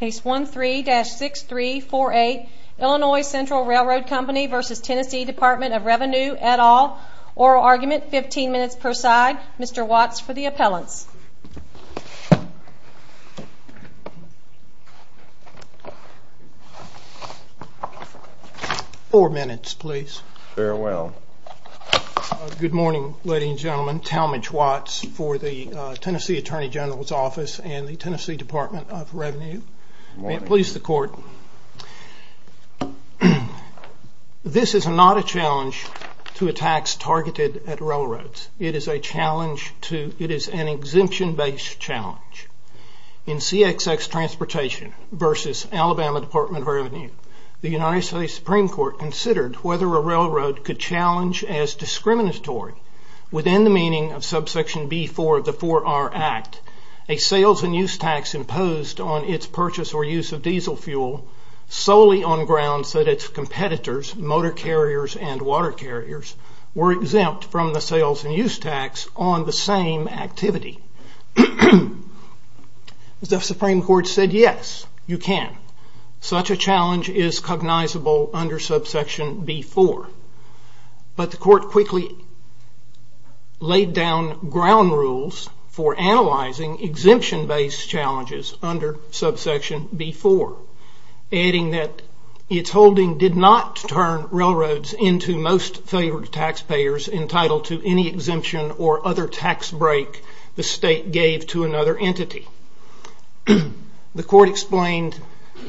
Case 13-6348 Illinois Central Railroad Company v. TN Dept of Revenue et al. Oral argument, 15 minutes per side. Mr. Watts for the appellants. Four minutes please. Farewell. Good morning, ladies and gentlemen. Talmadge Watts for the Tennessee Attorney General's office and the Tennessee Department of Revenue. May it please the court. This is not a challenge to attacks targeted at railroads. It is an exemption-based challenge. In CXX Transportation v. Alabama Dept of Revenue, the United States Supreme Court considered whether a railroad could challenge as discriminatory within the meaning of subsection B-4 of the 4R Act, a sales and use tax imposed on its purchase or use of diesel fuel solely on grounds that its competitors, motor carriers and water carriers, were exempt from the sales and use tax on the same activity. The Supreme Court said yes, you can. Such a challenge is cognizable under subsection B-4. But the court quickly laid down ground rules for analyzing exemption-based challenges under subsection B-4, adding that its holding did not turn railroads into most favored taxpayers entitled to any exemption or other tax break the state gave to another entity. The court explained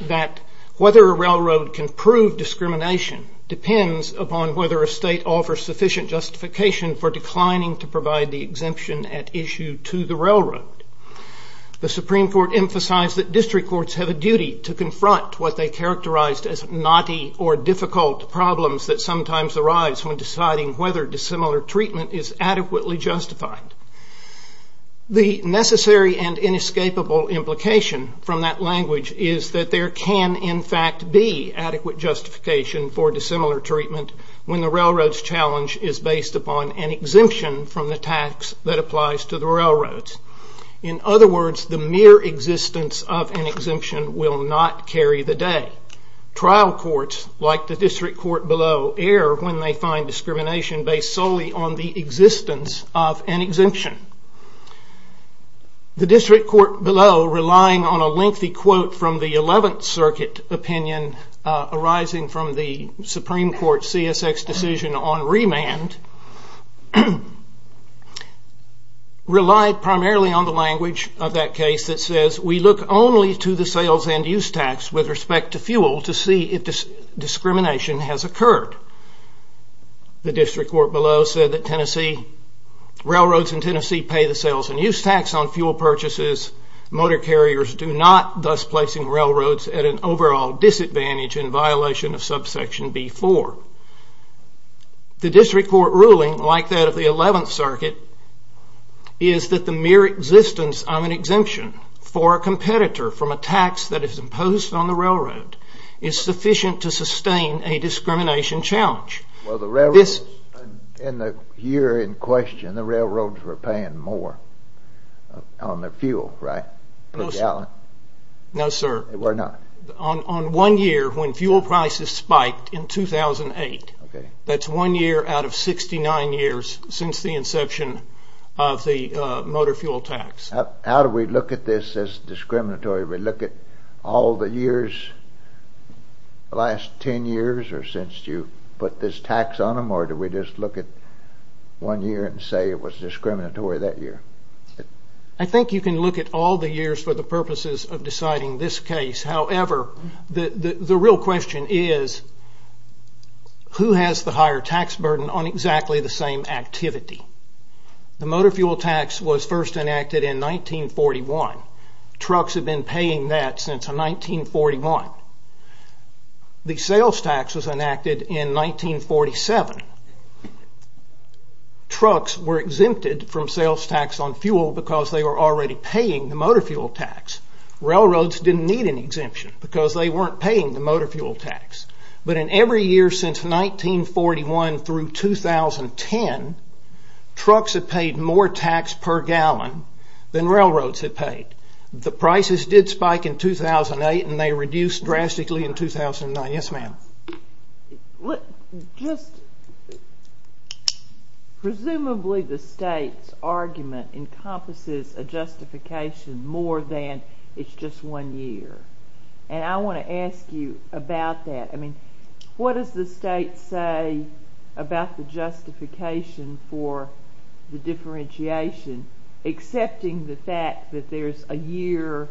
that whether a railroad can prove discrimination depends upon whether a state offers sufficient justification for declining to provide the exemption at issue to the railroad. The Supreme Court emphasized that district courts have a duty to confront what they characterized as naughty or difficult problems that sometimes arise when deciding whether dissimilar treatment is adequately justified. The necessary and inescapable implication from that language is that there can in fact be adequate justification for dissimilar treatment when the railroad's challenge is based upon an exemption from the tax that applies to the railroads. In other words, the mere existence of an exemption will not carry the day. Trial courts, like the district court below, err when they find discrimination based solely on the existence of an exemption. The district court below, relying on a lengthy quote from the Eleventh Circuit opinion arising from the Supreme Court's CSX decision on remand, relied primarily on the language of that case that says, we look only to the sales and use tax with respect to fuel to see if discrimination has occurred. The district court below said that railroads in Tennessee pay the sales and use tax on fuel purchases. Motor carriers do not, thus placing railroads at an overall disadvantage in violation of subsection B-4. The district court ruling, like that of the Eleventh Circuit, is that the mere existence of an exemption for a competitor from a tax that is imposed on the railroad is sufficient to sustain a discrimination challenge. Well, the railroads in the year in question, the railroads were paying more on their fuel, right, per gallon? No, sir. They were not? On one year, when fuel prices spiked in 2008, that's one year out of 69 years since the inception of the motor fuel tax. How do we look at this as discriminatory? We look at all the years, the last 10 years or since you put this tax on them, or do we just look at one year and say it was discriminatory that year? I think you can look at all the years for the purposes of deciding this case. However, the real question is, who has the higher tax burden on exactly the same activity? The motor fuel tax was first enacted in 1941. Trucks have been paying that since 1941. The sales tax was enacted in 1947. Trucks were exempted from sales tax on fuel because they were already paying the motor fuel tax. Railroads didn't need an exemption because they weren't paying the motor fuel tax. But in every year since 1941 through 2010, trucks have paid more tax per gallon than railroads have paid. The prices did spike in 2008 and they reduced drastically in 2009. Yes, ma'am? Presumably the state's argument encompasses a justification more than it's just one year. And I want to ask you about that. What does the state say about the justification for the differentiation, excepting the fact that there's a year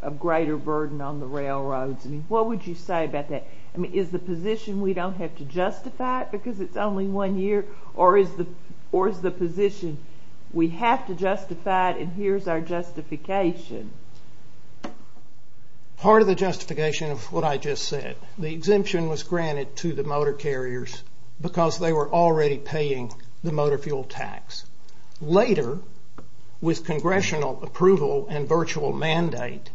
of greater burden on the railroads? What would you say about that? Is the position we don't have to justify it because it's only one year? Or is the position we have to justify it and here's our justification? Part of the justification of what I just said, the exemption was granted to the motor carriers because they were already paying the motor fuel tax. Later, with congressional approval and virtual mandate,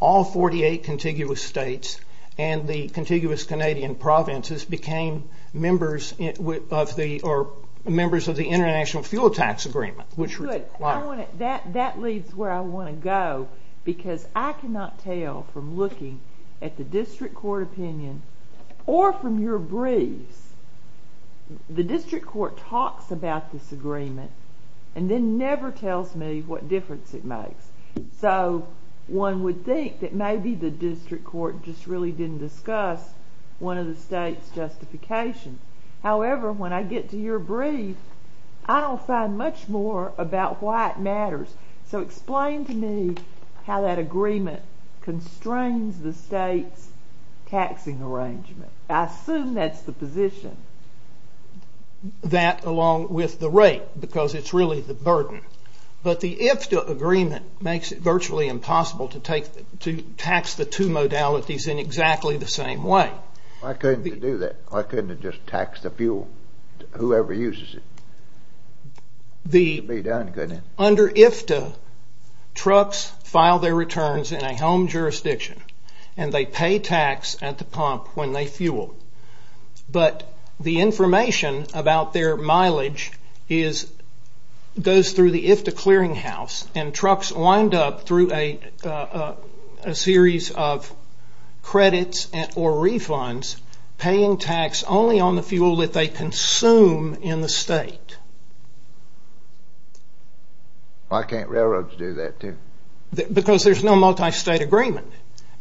all 48 contiguous states and the contiguous Canadian provinces became members of the International Fuel Tax Agreement. That leads where I want to go because I cannot tell from looking at the district court opinion or from your briefs, the district court talks about this agreement and then never tells me what difference it makes. So one would think that maybe the district court just really didn't discuss one of the state's justifications. However, when I get to your brief, I don't find much more about why it matters. So explain to me how that agreement constrains the state's taxing arrangement. I assume that's the position. That along with the rate because it's really the burden. But the IFTA agreement makes it virtually impossible to tax the two modalities in exactly the same way. Why couldn't they do that? Why couldn't they just tax the fuel, whoever uses it? Under IFTA, trucks file their returns in a home jurisdiction and they pay tax at the pump when they fuel. But the information about their mileage goes through the IFTA clearinghouse and trucks wind up through a series of credits or refunds paying tax only on the fuel that they consume in the state. Why can't railroads do that too? Because there's no multi-state agreement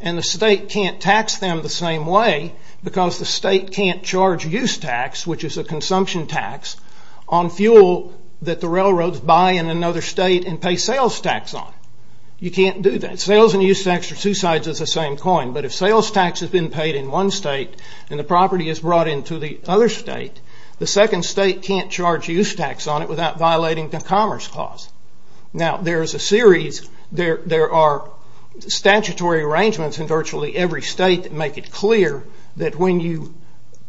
and the state can't tax them the same way because the state can't charge use tax, which is a consumption tax, on fuel that the railroads buy in another state and pay sales tax on. You can't do that. Sales and use tax are two sides of the same coin. But if sales tax has been paid in one state and the property is brought into the other state, the second state can't charge use tax on it without violating the Commerce Clause. Now, there's a series, there are statutory arrangements in virtually every state that make it clear that when you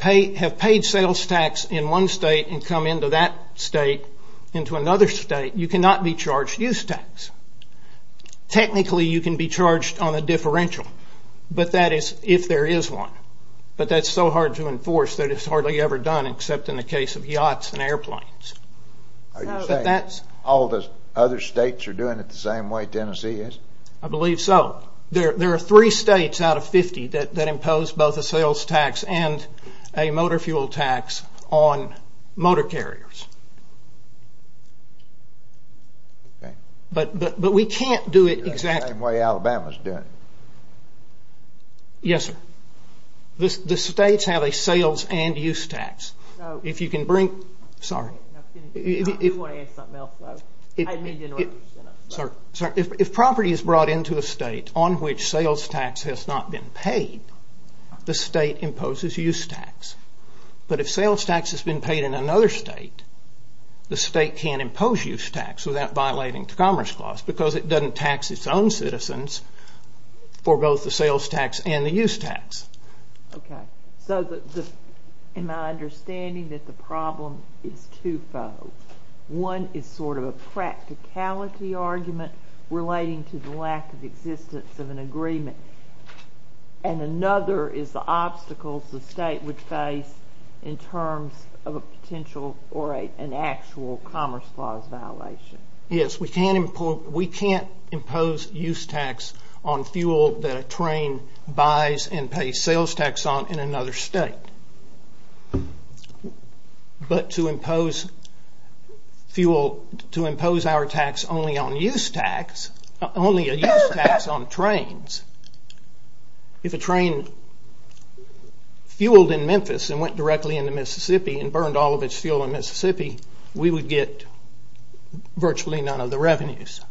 have paid sales tax in one state and come into that state, into another state, you cannot be charged use tax. Technically, you can be charged on a differential, but that is if there is one. But that's so hard to enforce that it's hardly ever done except in the case of yachts and airplanes. Are you saying all the other states are doing it the same way Tennessee is? I believe so. There are three states out of 50 that impose both a sales tax and a motor fuel tax on motor carriers. Okay. But we can't do it exactly. The same way Alabama is doing it. Yes, sir. The states have a sales and use tax. If you can bring, sorry, if property is brought into a state on which sales tax has not been paid, the state imposes use tax. But if sales tax has been paid in another state, the state can't impose use tax without violating the Commerce Clause because it doesn't tax its own citizens for both the sales tax and the use tax. Okay. So in my understanding that the problem is two-fold. One is sort of a practicality argument relating to the lack of existence of an agreement, and another is the obstacles the state would face in terms of a potential or an actual Commerce Clause violation. Yes, we can't impose use tax on fuel that a train buys and pays sales tax on in another state. But to impose fuel, to impose our tax only on use tax, only a use tax on trains, if a train fueled in Memphis and went directly into Mississippi and burned all of its fuel in Mississippi, we would get virtually none of the revenues.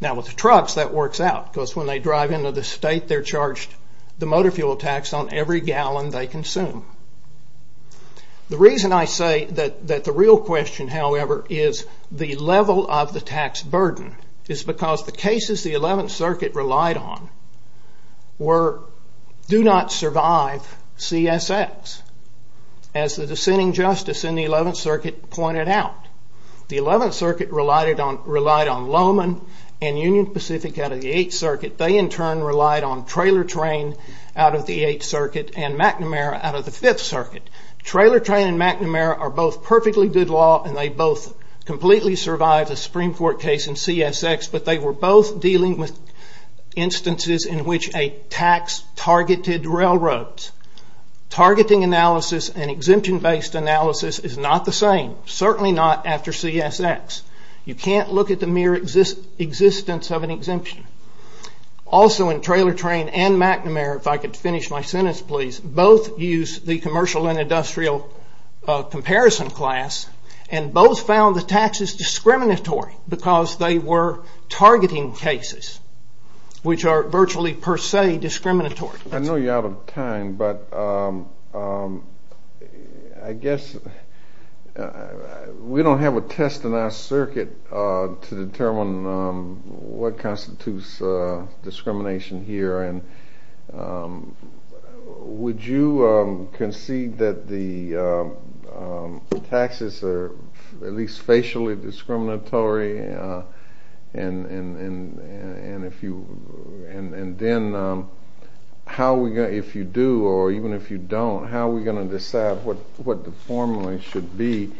Now with the trucks, that works out because when they drive into the state, they're charged the motor fuel tax on every gallon they consume. The reason I say that the real question, however, is the level of the tax burden is because the cases the 11th Circuit relied on were do not survive CSX. As the dissenting justice in the 11th Circuit pointed out, the 11th Circuit relied on Lowman and Union Pacific out of the 8th Circuit. They in turn relied on Trailer Train out of the 8th Circuit and McNamara out of the 5th Circuit. Trailer Train and McNamara are both perfectly good law and they both completely survived a Supreme Court case in CSX, but they were both dealing with instances in which a tax targeted railroads. Targeting analysis and exemption based analysis is not the same, certainly not after CSX. You can't look at the mere existence of an exemption. Also in Trailer Train and McNamara, if I could finish my sentence please, both used the commercial and industrial comparison class and both found the taxes discriminatory because they were targeting cases, which are virtually per se discriminatory. I know you're out of time, but I guess we don't have a test in our circuit to determine what constitutes discrimination here and would you concede that the taxes are at least facially discriminatory and then if you do or even if you don't, how are we going to decide what the formula should be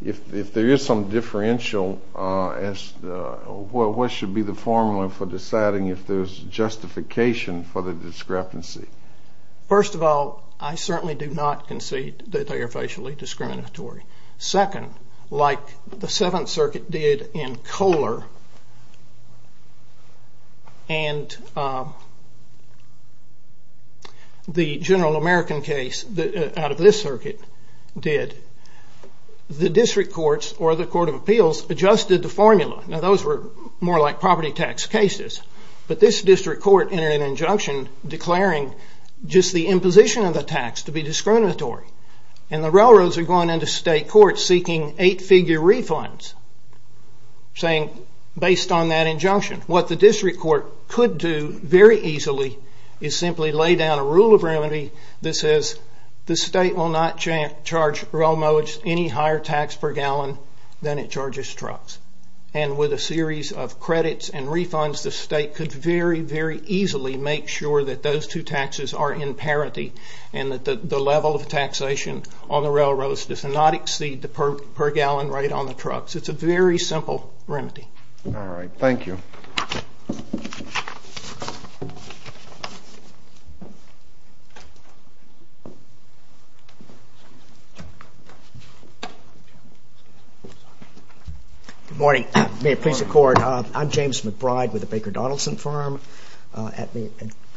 if there is some differential, what should be the formula for deciding if there's justification for the discrepancy? First of all, I certainly do not concede that they are facially discriminatory. Second, like the Seventh Circuit did in Kohler and the general American case out of this circuit did, the district courts or the Court of Appeals adjusted the formula. Now those were more like property tax cases, but this district court entered an injunction declaring just the imposition of the tax to be discriminatory and the railroads are going into state courts seeking eight-figure refunds based on that injunction. What the district court could do very easily is simply lay down a rule of remedy that says the state will not charge railroads any higher tax per gallon than it charges trucks and with a series of credits and refunds, the state could very, very easily make sure that those two taxes are in parity and that the level of taxation on the railroads does not exceed the per gallon rate on the trucks. It's a very simple remedy. All right. Thank you. Good morning. May it please the Court. I'm James McBride with the Baker Donaldson firm. At the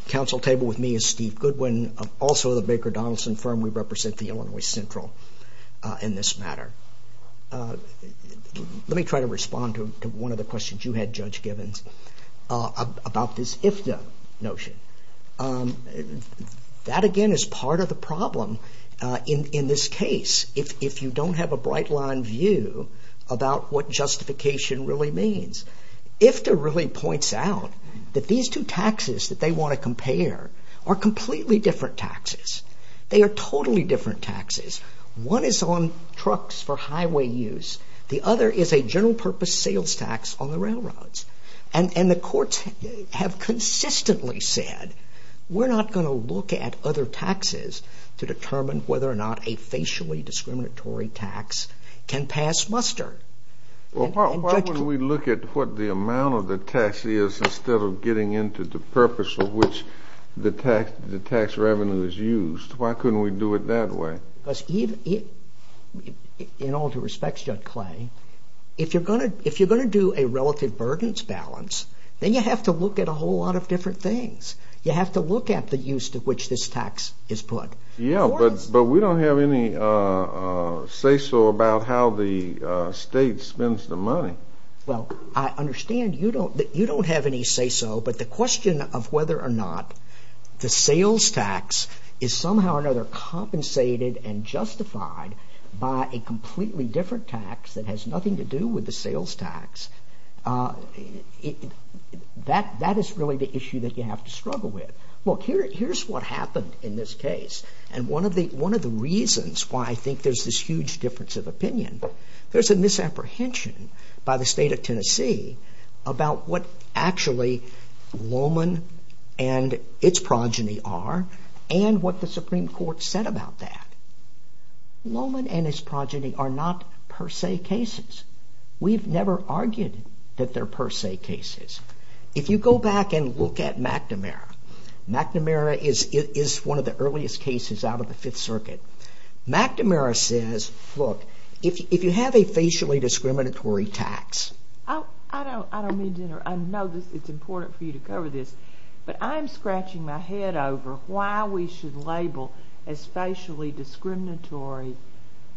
council table with me is Steve Goodwin, also of the Baker Donaldson firm. We represent the Illinois Central in this matter. Let me try to respond to one of the questions you had, Judge Givens, about this IFDA notion. That again is part of the problem in this case. If you don't have a bright line view about what justification really means, IFDA really points out that these two taxes that they want to compare are completely different taxes. They are totally different taxes. One is on trucks for highway use. The other is a general purpose sales tax on the railroads. And the courts have consistently said we're not going to look at other taxes to determine whether or not a facially discriminatory tax can pass muster. Well, why wouldn't we look at what the amount of the tax is instead of getting into the purpose of which the tax revenue is used? Why couldn't we do it that way? Because in all due respect, Judge Clay, if you're going to do a relative burdens balance, then you have to look at a whole lot of different things. You have to look at the use to which this tax is put. Yeah, but we don't have any say-so about how the state spends the money. Well, I understand you don't have any say-so, but the question of whether or not the sales tax is somehow or another compensated and justified by a completely different tax that has nothing to do with the sales tax, that is really the issue that you have to struggle with. Look, here's what happened in this case, and one of the reasons why I think there's this huge difference of opinion, there's a misapprehension by the state of Tennessee about what actually Lohman and its progeny are and what the Supreme Court said about that. Lohman and his progeny are not per se cases. We've never argued that they're per se cases. If you go back and look at McNamara, McNamara is one of the earliest cases out of the Fifth Circuit. McNamara says, look, if you have a facially discriminatory tax... I don't mean to interrupt. I know it's important for you to cover this, but I'm scratching my head over why we should label as facially discriminatory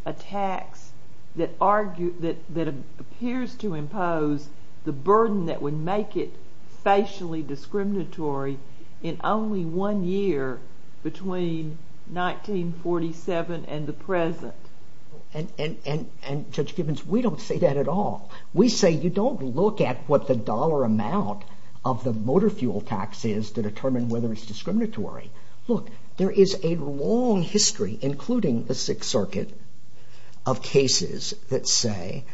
a tax that appears to impose the burden that would make it facially discriminatory in only one year between 1947 and the present. And Judge Gibbons, we don't say that at all. We say you don't look at what the dollar amount of the motor fuel tax is to determine whether it's discriminatory. Look, there is a long history, including the Sixth Circuit, of cases that say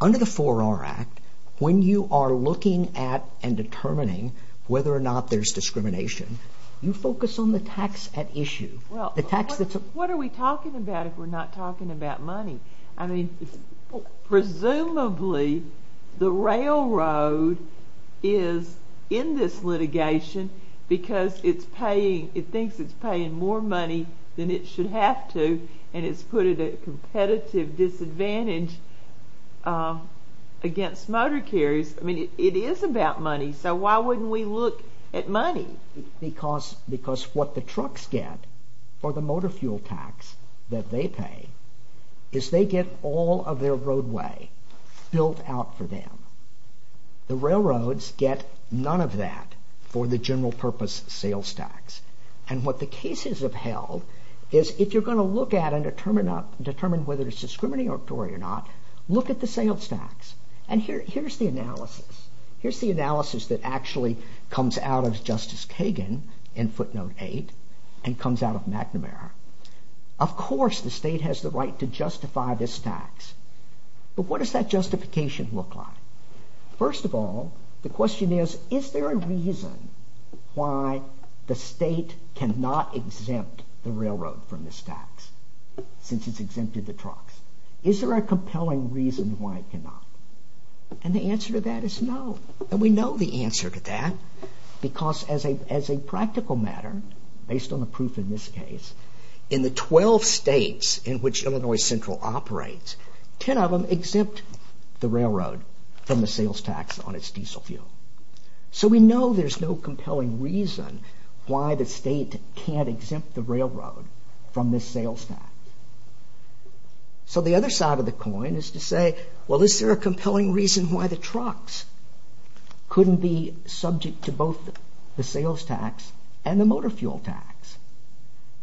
under the 4R Act, when you are looking at and determining whether or not there's discrimination, you focus on the tax at issue. What are we talking about if we're not talking about money? I mean, presumably the railroad is in this litigation because it thinks it's paying more money than it should have to and it's put at a competitive disadvantage against motor carriers. I mean, it is about money, so why wouldn't we look at money? Because what the trucks get for the motor fuel tax that they pay is they get all of their roadway built out for them. The railroads get none of that for the general purpose sales tax. And what the cases have held is if you're going to look at and determine whether it's discriminatory or not, look at the sales tax. And here's the analysis. Here's the analysis that actually comes out of Justice Kagan in footnote 8 and comes out of McNamara. Of course the state has the right to justify this tax, but what does that justification look like? First of all, the question is, is there a reason why the state cannot exempt the railroad from this tax since it's exempted the trucks? Is there a compelling reason why it cannot? And the answer to that is no, and we know the answer to that because as a practical matter, based on the proof in this case, in the 12 states in which Illinois Central operates, 10 of them exempt the railroad from the sales tax on its diesel fuel. So we know there's no compelling reason why the state can't exempt the railroad from this sales tax. So the other side of the coin is to say, well is there a compelling reason why the trucks couldn't be subject to both the sales tax and the motor fuel tax?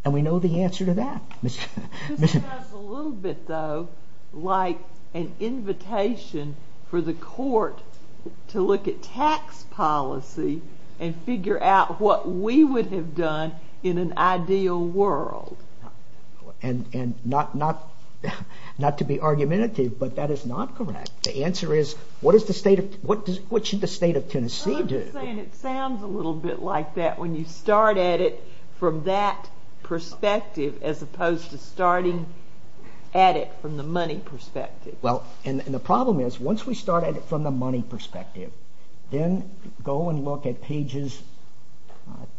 And we know the answer to that. This sounds a little bit though like an invitation for the court to look at tax policy and figure out what we would have done in an ideal world. And not to be argumentative, but that is not correct. The answer is, what should the state of Tennessee do? I'm just saying it sounds a little bit like that when you start at it from that perspective as opposed to starting at it from the money perspective. Well, and the problem is, once we start at it from the money perspective, then go and look at pages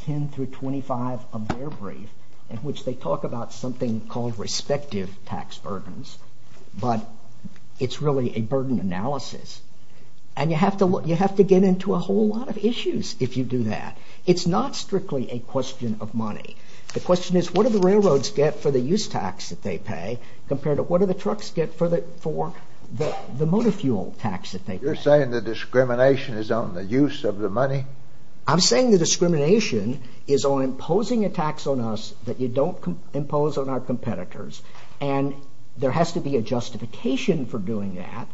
10 through 25 of their brief in which they talk about something called respective tax burdens, but it's really a burden analysis. And you have to get into a whole lot of issues if you do that. It's not strictly a question of money. The question is, what do the railroads get for the use tax that they pay compared to what do the trucks get for the motor fuel tax that they pay? You're saying the discrimination is on the use of the money? I'm saying the discrimination is on imposing a tax on us that you don't impose on our competitors. And there has to be a justification for doing that,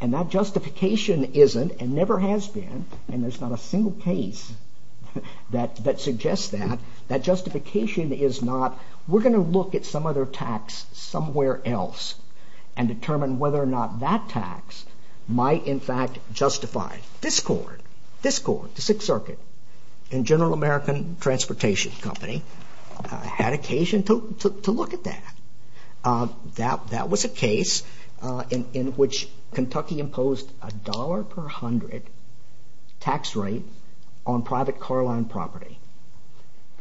and that justification isn't and never has been, and there's not a single case that suggests that. That justification is not, we're going to look at some other tax somewhere else and determine whether or not that tax might in fact justify this court, this court, the Sixth Circuit, and General American Transportation Company had occasion to look at that. That was a case in which Kentucky imposed a dollar per hundred tax rate on private car line property,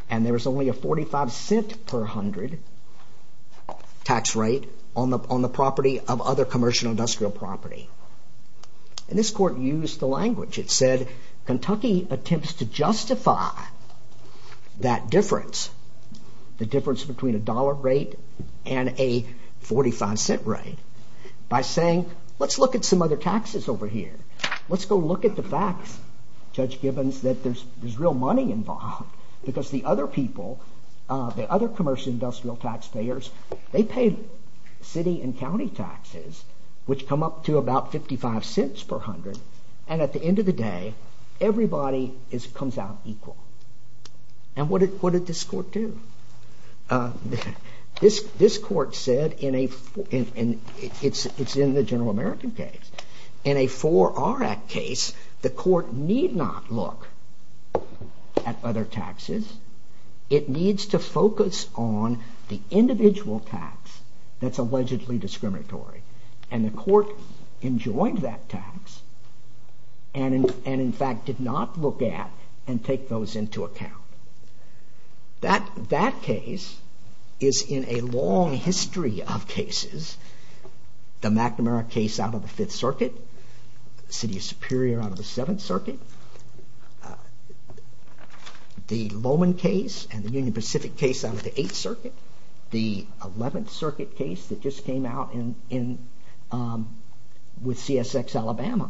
and there was only a 45 cent per hundred tax rate on the property of other commercial industrial property. And this court used the language. It said, Kentucky attempts to justify that difference, the difference between a dollar rate and a 45 cent rate, by saying, let's look at some other taxes over here. Let's go look at the facts, Judge Gibbons, that there's real money involved because the other people, the other commercial industrial taxpayers, they pay city and county taxes, which come up to about 55 cents per hundred, and at the end of the day, everybody comes out equal. And what did this court do? This court said in a, it's in the General American case, in a Four R Act case, the court need not look at other taxes. It needs to focus on the individual tax that's allegedly discriminatory, and the court enjoined that tax and in fact did not look at and take those into account. That case is in a long history of cases, the McNamara case out of the Fifth Circuit, the City of Superior out of the Seventh Circuit, the Lohman case and the Union Pacific case out of the Eighth Circuit, the Eleventh Circuit case that just came out with CSX Alabama,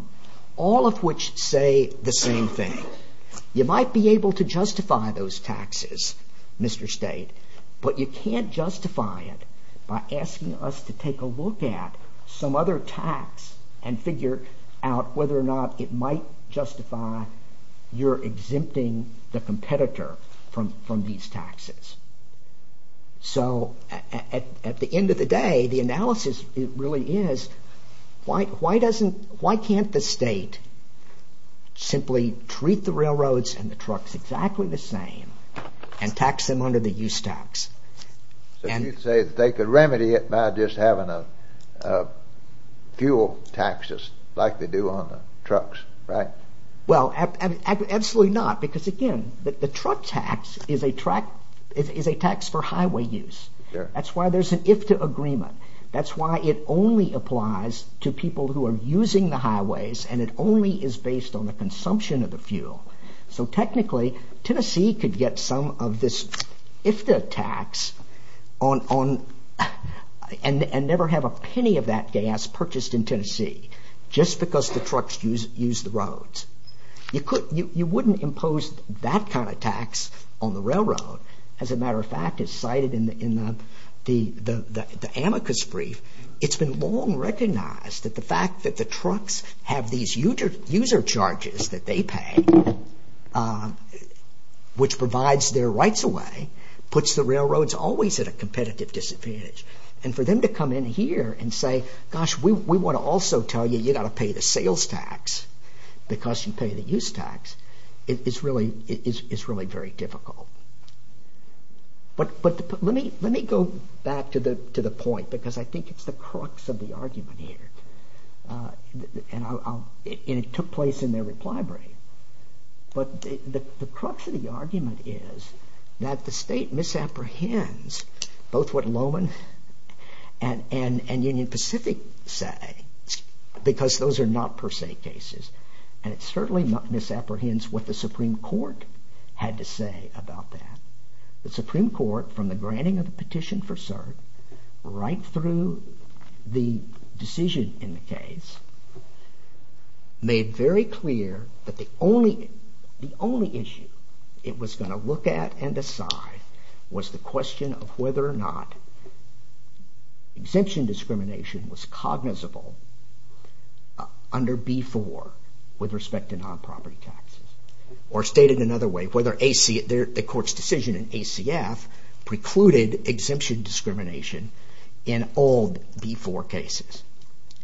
all of which say the same thing. You might be able to justify those taxes, Mr. State, but you can't justify it by asking us to take a look at some other tax and figure out whether or not it might justify your exempting the competitor from these taxes. So at the end of the day, the analysis really is why can't the state simply treat the railroads and the trucks exactly the same and tax them under the use tax? So you'd say they could remedy it by just having a fuel taxes like they do on the trucks, right? Well, absolutely not, because again, the truck tax is a tax for highway use. That's why there's an IFTA agreement. That's why it only applies to people who are using the highways and it only is based on the consumption of the fuel. So technically, Tennessee could get some of this IFTA tax and never have a penny of that gas purchased in Tennessee just because the trucks use the roads. You wouldn't impose that kind of tax on the railroad. As a matter of fact, it's cited in the amicus brief. It's been long recognized that the fact that the trucks have these user charges that they pay, which provides their rights away, puts the railroads always at a competitive disadvantage. And for them to come in here and say, gosh, we want to also tell you you got to pay the sales tax because you pay the use tax, is really very difficult. But let me go back to the point because I think it's the crux of the argument here. And it took place in their reply brief. But the crux of the argument is that the state misapprehends both what Lohman and Union Pacific say because those are not per se cases. And it certainly misapprehends what the Supreme Court had to say about that. The Supreme Court from the granting of the petition for cert right through the decision in the case made very clear that the only issue it was going to look at and decide was the question of whether or not under B-4 with respect to non-property taxes. Or stated another way, whether the court's decision in ACF precluded exemption discrimination in all B-4 cases.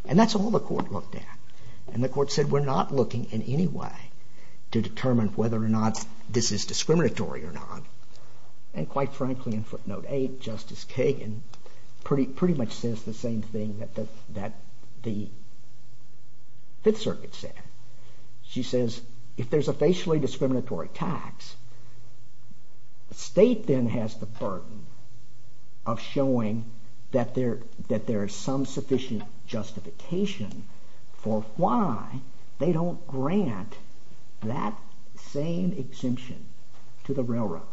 And that's all the court looked at. And the court said we're not looking in any way to determine whether or not this is discriminatory or not. And quite frankly, in footnote eight, Justice Kagan pretty much says the same thing that the Fifth Circuit said. She says if there's a facially discriminatory tax, the state then has the burden of showing that there is some sufficient justification for why they don't grant that same exemption to the railroads.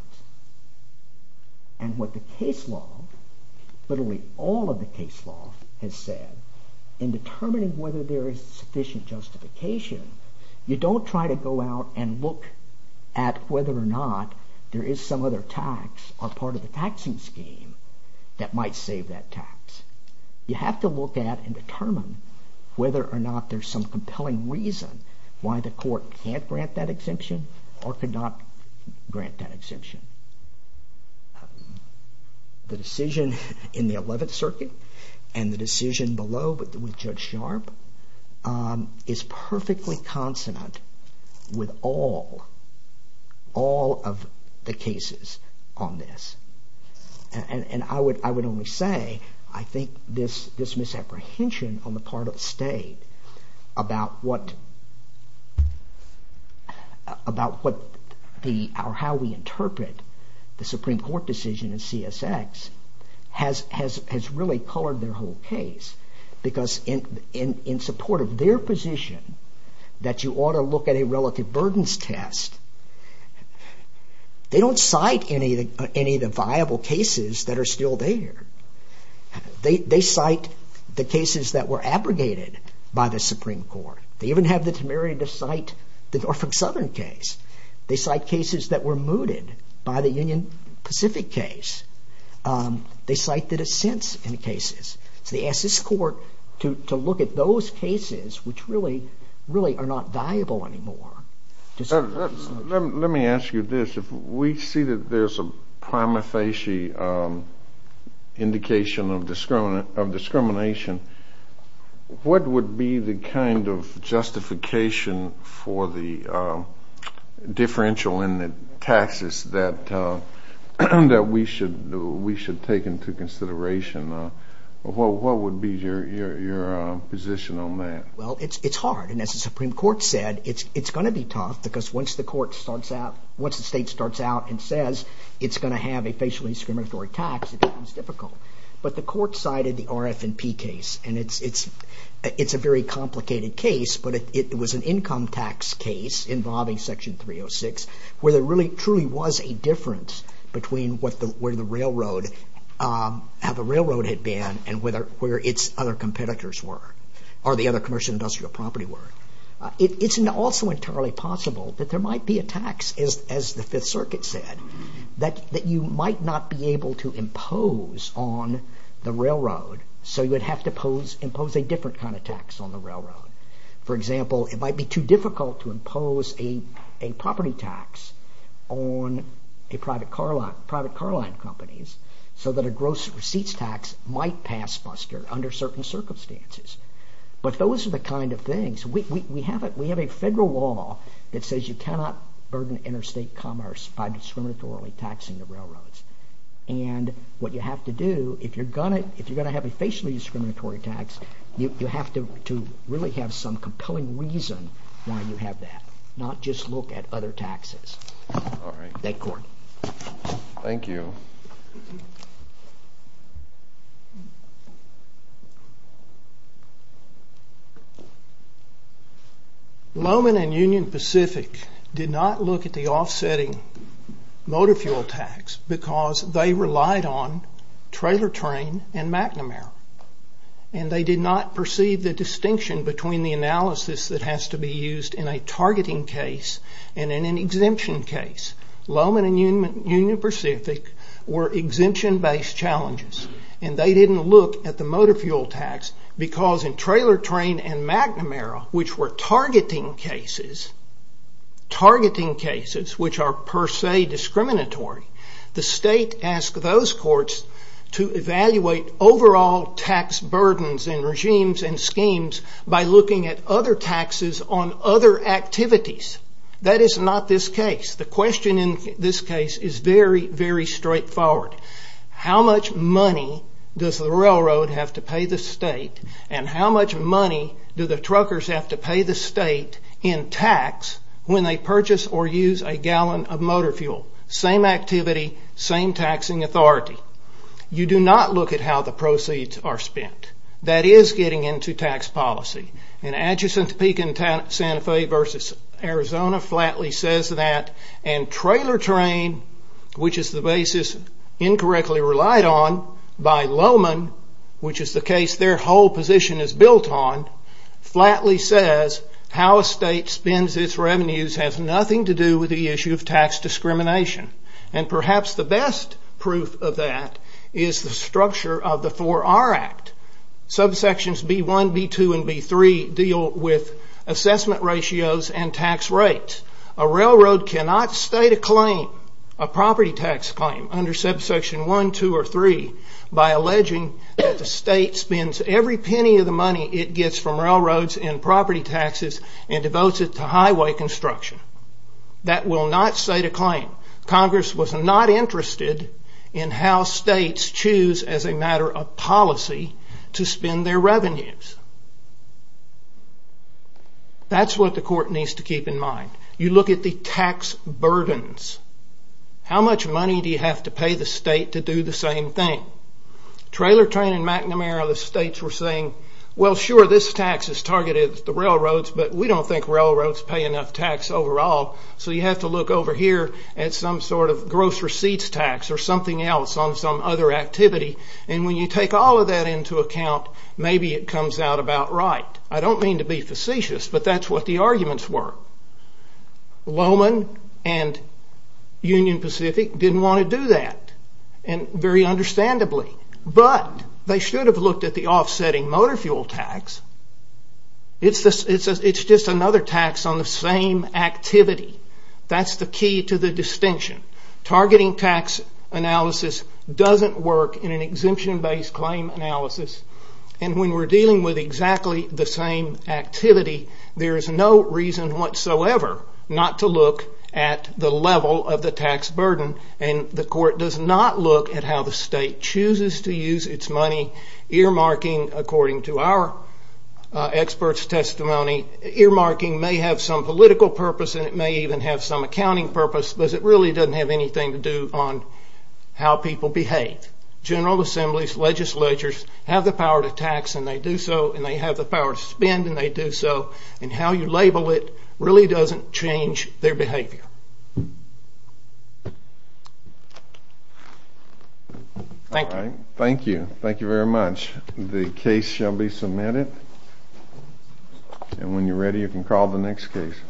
And what the case law, literally all of the case law has said in determining whether there is sufficient justification, you don't try to go out and look at whether or not there is some other tax or part of the taxing scheme that might save that tax. You have to look at and determine whether or not there's some compelling reason why the court can't grant that exemption or could not grant that exemption. The decision in the Eleventh Circuit and the decision below with Judge Sharpe is perfectly consonant with all, all of the cases on this. And I would only say I think this misapprehension on the part of the state about what, about how we interpret the Supreme Court decision in CSX has really colored their whole case. Because in support of their position that you ought to look at a relative burdens test, they don't cite any of the viable cases that are still there. They cite the cases that were abrogated by the Supreme Court. They even have the temerity to cite the Norfolk Southern case. They cite cases that were mooted by the Union Pacific case. They cite the dissents in the cases. So they ask this court to look at those cases which really, really are not viable anymore. Let me ask you this. If we see that there's a prima facie indication of discrimination, what would be the kind of justification for the differential in the taxes that we should take into consideration? What would be your position on that? Well, it's hard. And as the Supreme Court said, it's going to be tough because once the court starts out, once the state starts out and says it's going to have a facially discriminatory tax, it becomes difficult. But the court cited the RF&P case. And it's a very complicated case, but it was an income tax case involving Section 306 where there really truly was a difference between where the railroad had been and where its other competitors were or the other commercial industrial property were. It's also entirely possible that there might be a tax, as the Fifth Circuit said, that you might not be able to impose on the railroad, so you would have to impose a different kind of tax on the railroad. For example, it might be too difficult to impose a property tax on private car line companies so that a gross receipts tax might pass muster under certain circumstances. But those are the kind of things. We have a federal law that says you cannot burden interstate commerce by discriminatorily taxing the railroads. And what you have to do, if you're going to have a facially discriminatory tax, you have to really have some compelling reason why you have that, not just look at other taxes. Thank you. Thank you. Lowman and Union Pacific did not look at the offsetting motor fuel tax because they relied on trailer train and McNamara, and they did not perceive the distinction between the analysis that has to be used in a targeting case and in an exemption case. Lowman and Union Pacific were exemption-based challenges, and they didn't look at the motor fuel tax because in trailer train and McNamara, which were targeting cases, targeting cases which are per se discriminatory, the state asked those courts to evaluate overall tax burdens in regimes and schemes by looking at other taxes on other activities. That is not this case. The question in this case is very, very straightforward. How much money does the railroad have to pay the state, and how much money do the truckers have to pay the state in tax when they purchase or use a gallon of motor fuel? Same activity, same taxing authority. You do not look at how the proceeds are spent. That is getting into tax policy. And Atchison, Topeka, and Santa Fe versus Arizona flatly says that, and trailer train, which is the basis incorrectly relied on by Lowman, which is the case their whole position is built on, flatly says how a state spends its revenues has nothing to do with the issue of tax discrimination. And perhaps the best proof of that is the structure of the 4R Act. Subsections B-1, B-2, and B-3 deal with assessment ratios and tax rates. A railroad cannot state a claim, a property tax claim, under subsection 1, 2, or 3 by alleging that the state spends every penny of the money it gets from railroads in property taxes and devotes it to highway construction. That will not state a claim. Congress was not interested in how states choose as a matter of policy to spend their revenues. That's what the court needs to keep in mind. You look at the tax burdens. How much money do you have to pay the state to do the same thing? Trailer train and McNamara, the states were saying, well sure, this tax is targeted at the railroads, but we don't think railroads pay enough tax overall, so you have to look over here at some sort of gross receipts tax or something else on some other activity, and when you take all of that into account, maybe it comes out about right. I don't mean to be facetious, but that's what the arguments were. Lowman and Union Pacific didn't want to do that, very understandably, but they should have looked at the offsetting motor fuel tax. It's just another tax on the same activity. That's the key to the distinction. Targeting tax analysis doesn't work in an exemption-based claim analysis, and when we're dealing with exactly the same activity, there is no reason whatsoever not to look at the level of the tax burden, and the court does not look at how the state chooses to use its money. Earmarking, according to our experts' testimony, earmarking may have some political purpose and it may even have some accounting purpose, but it really doesn't have anything to do on how people behave. General assemblies, legislatures have the power to tax, and they do so, and they have the power to spend, and they do so, and how you label it really doesn't change their behavior. Thank you. Thank you. Thank you very much. The case shall be submitted, and when you're ready you can call the next case.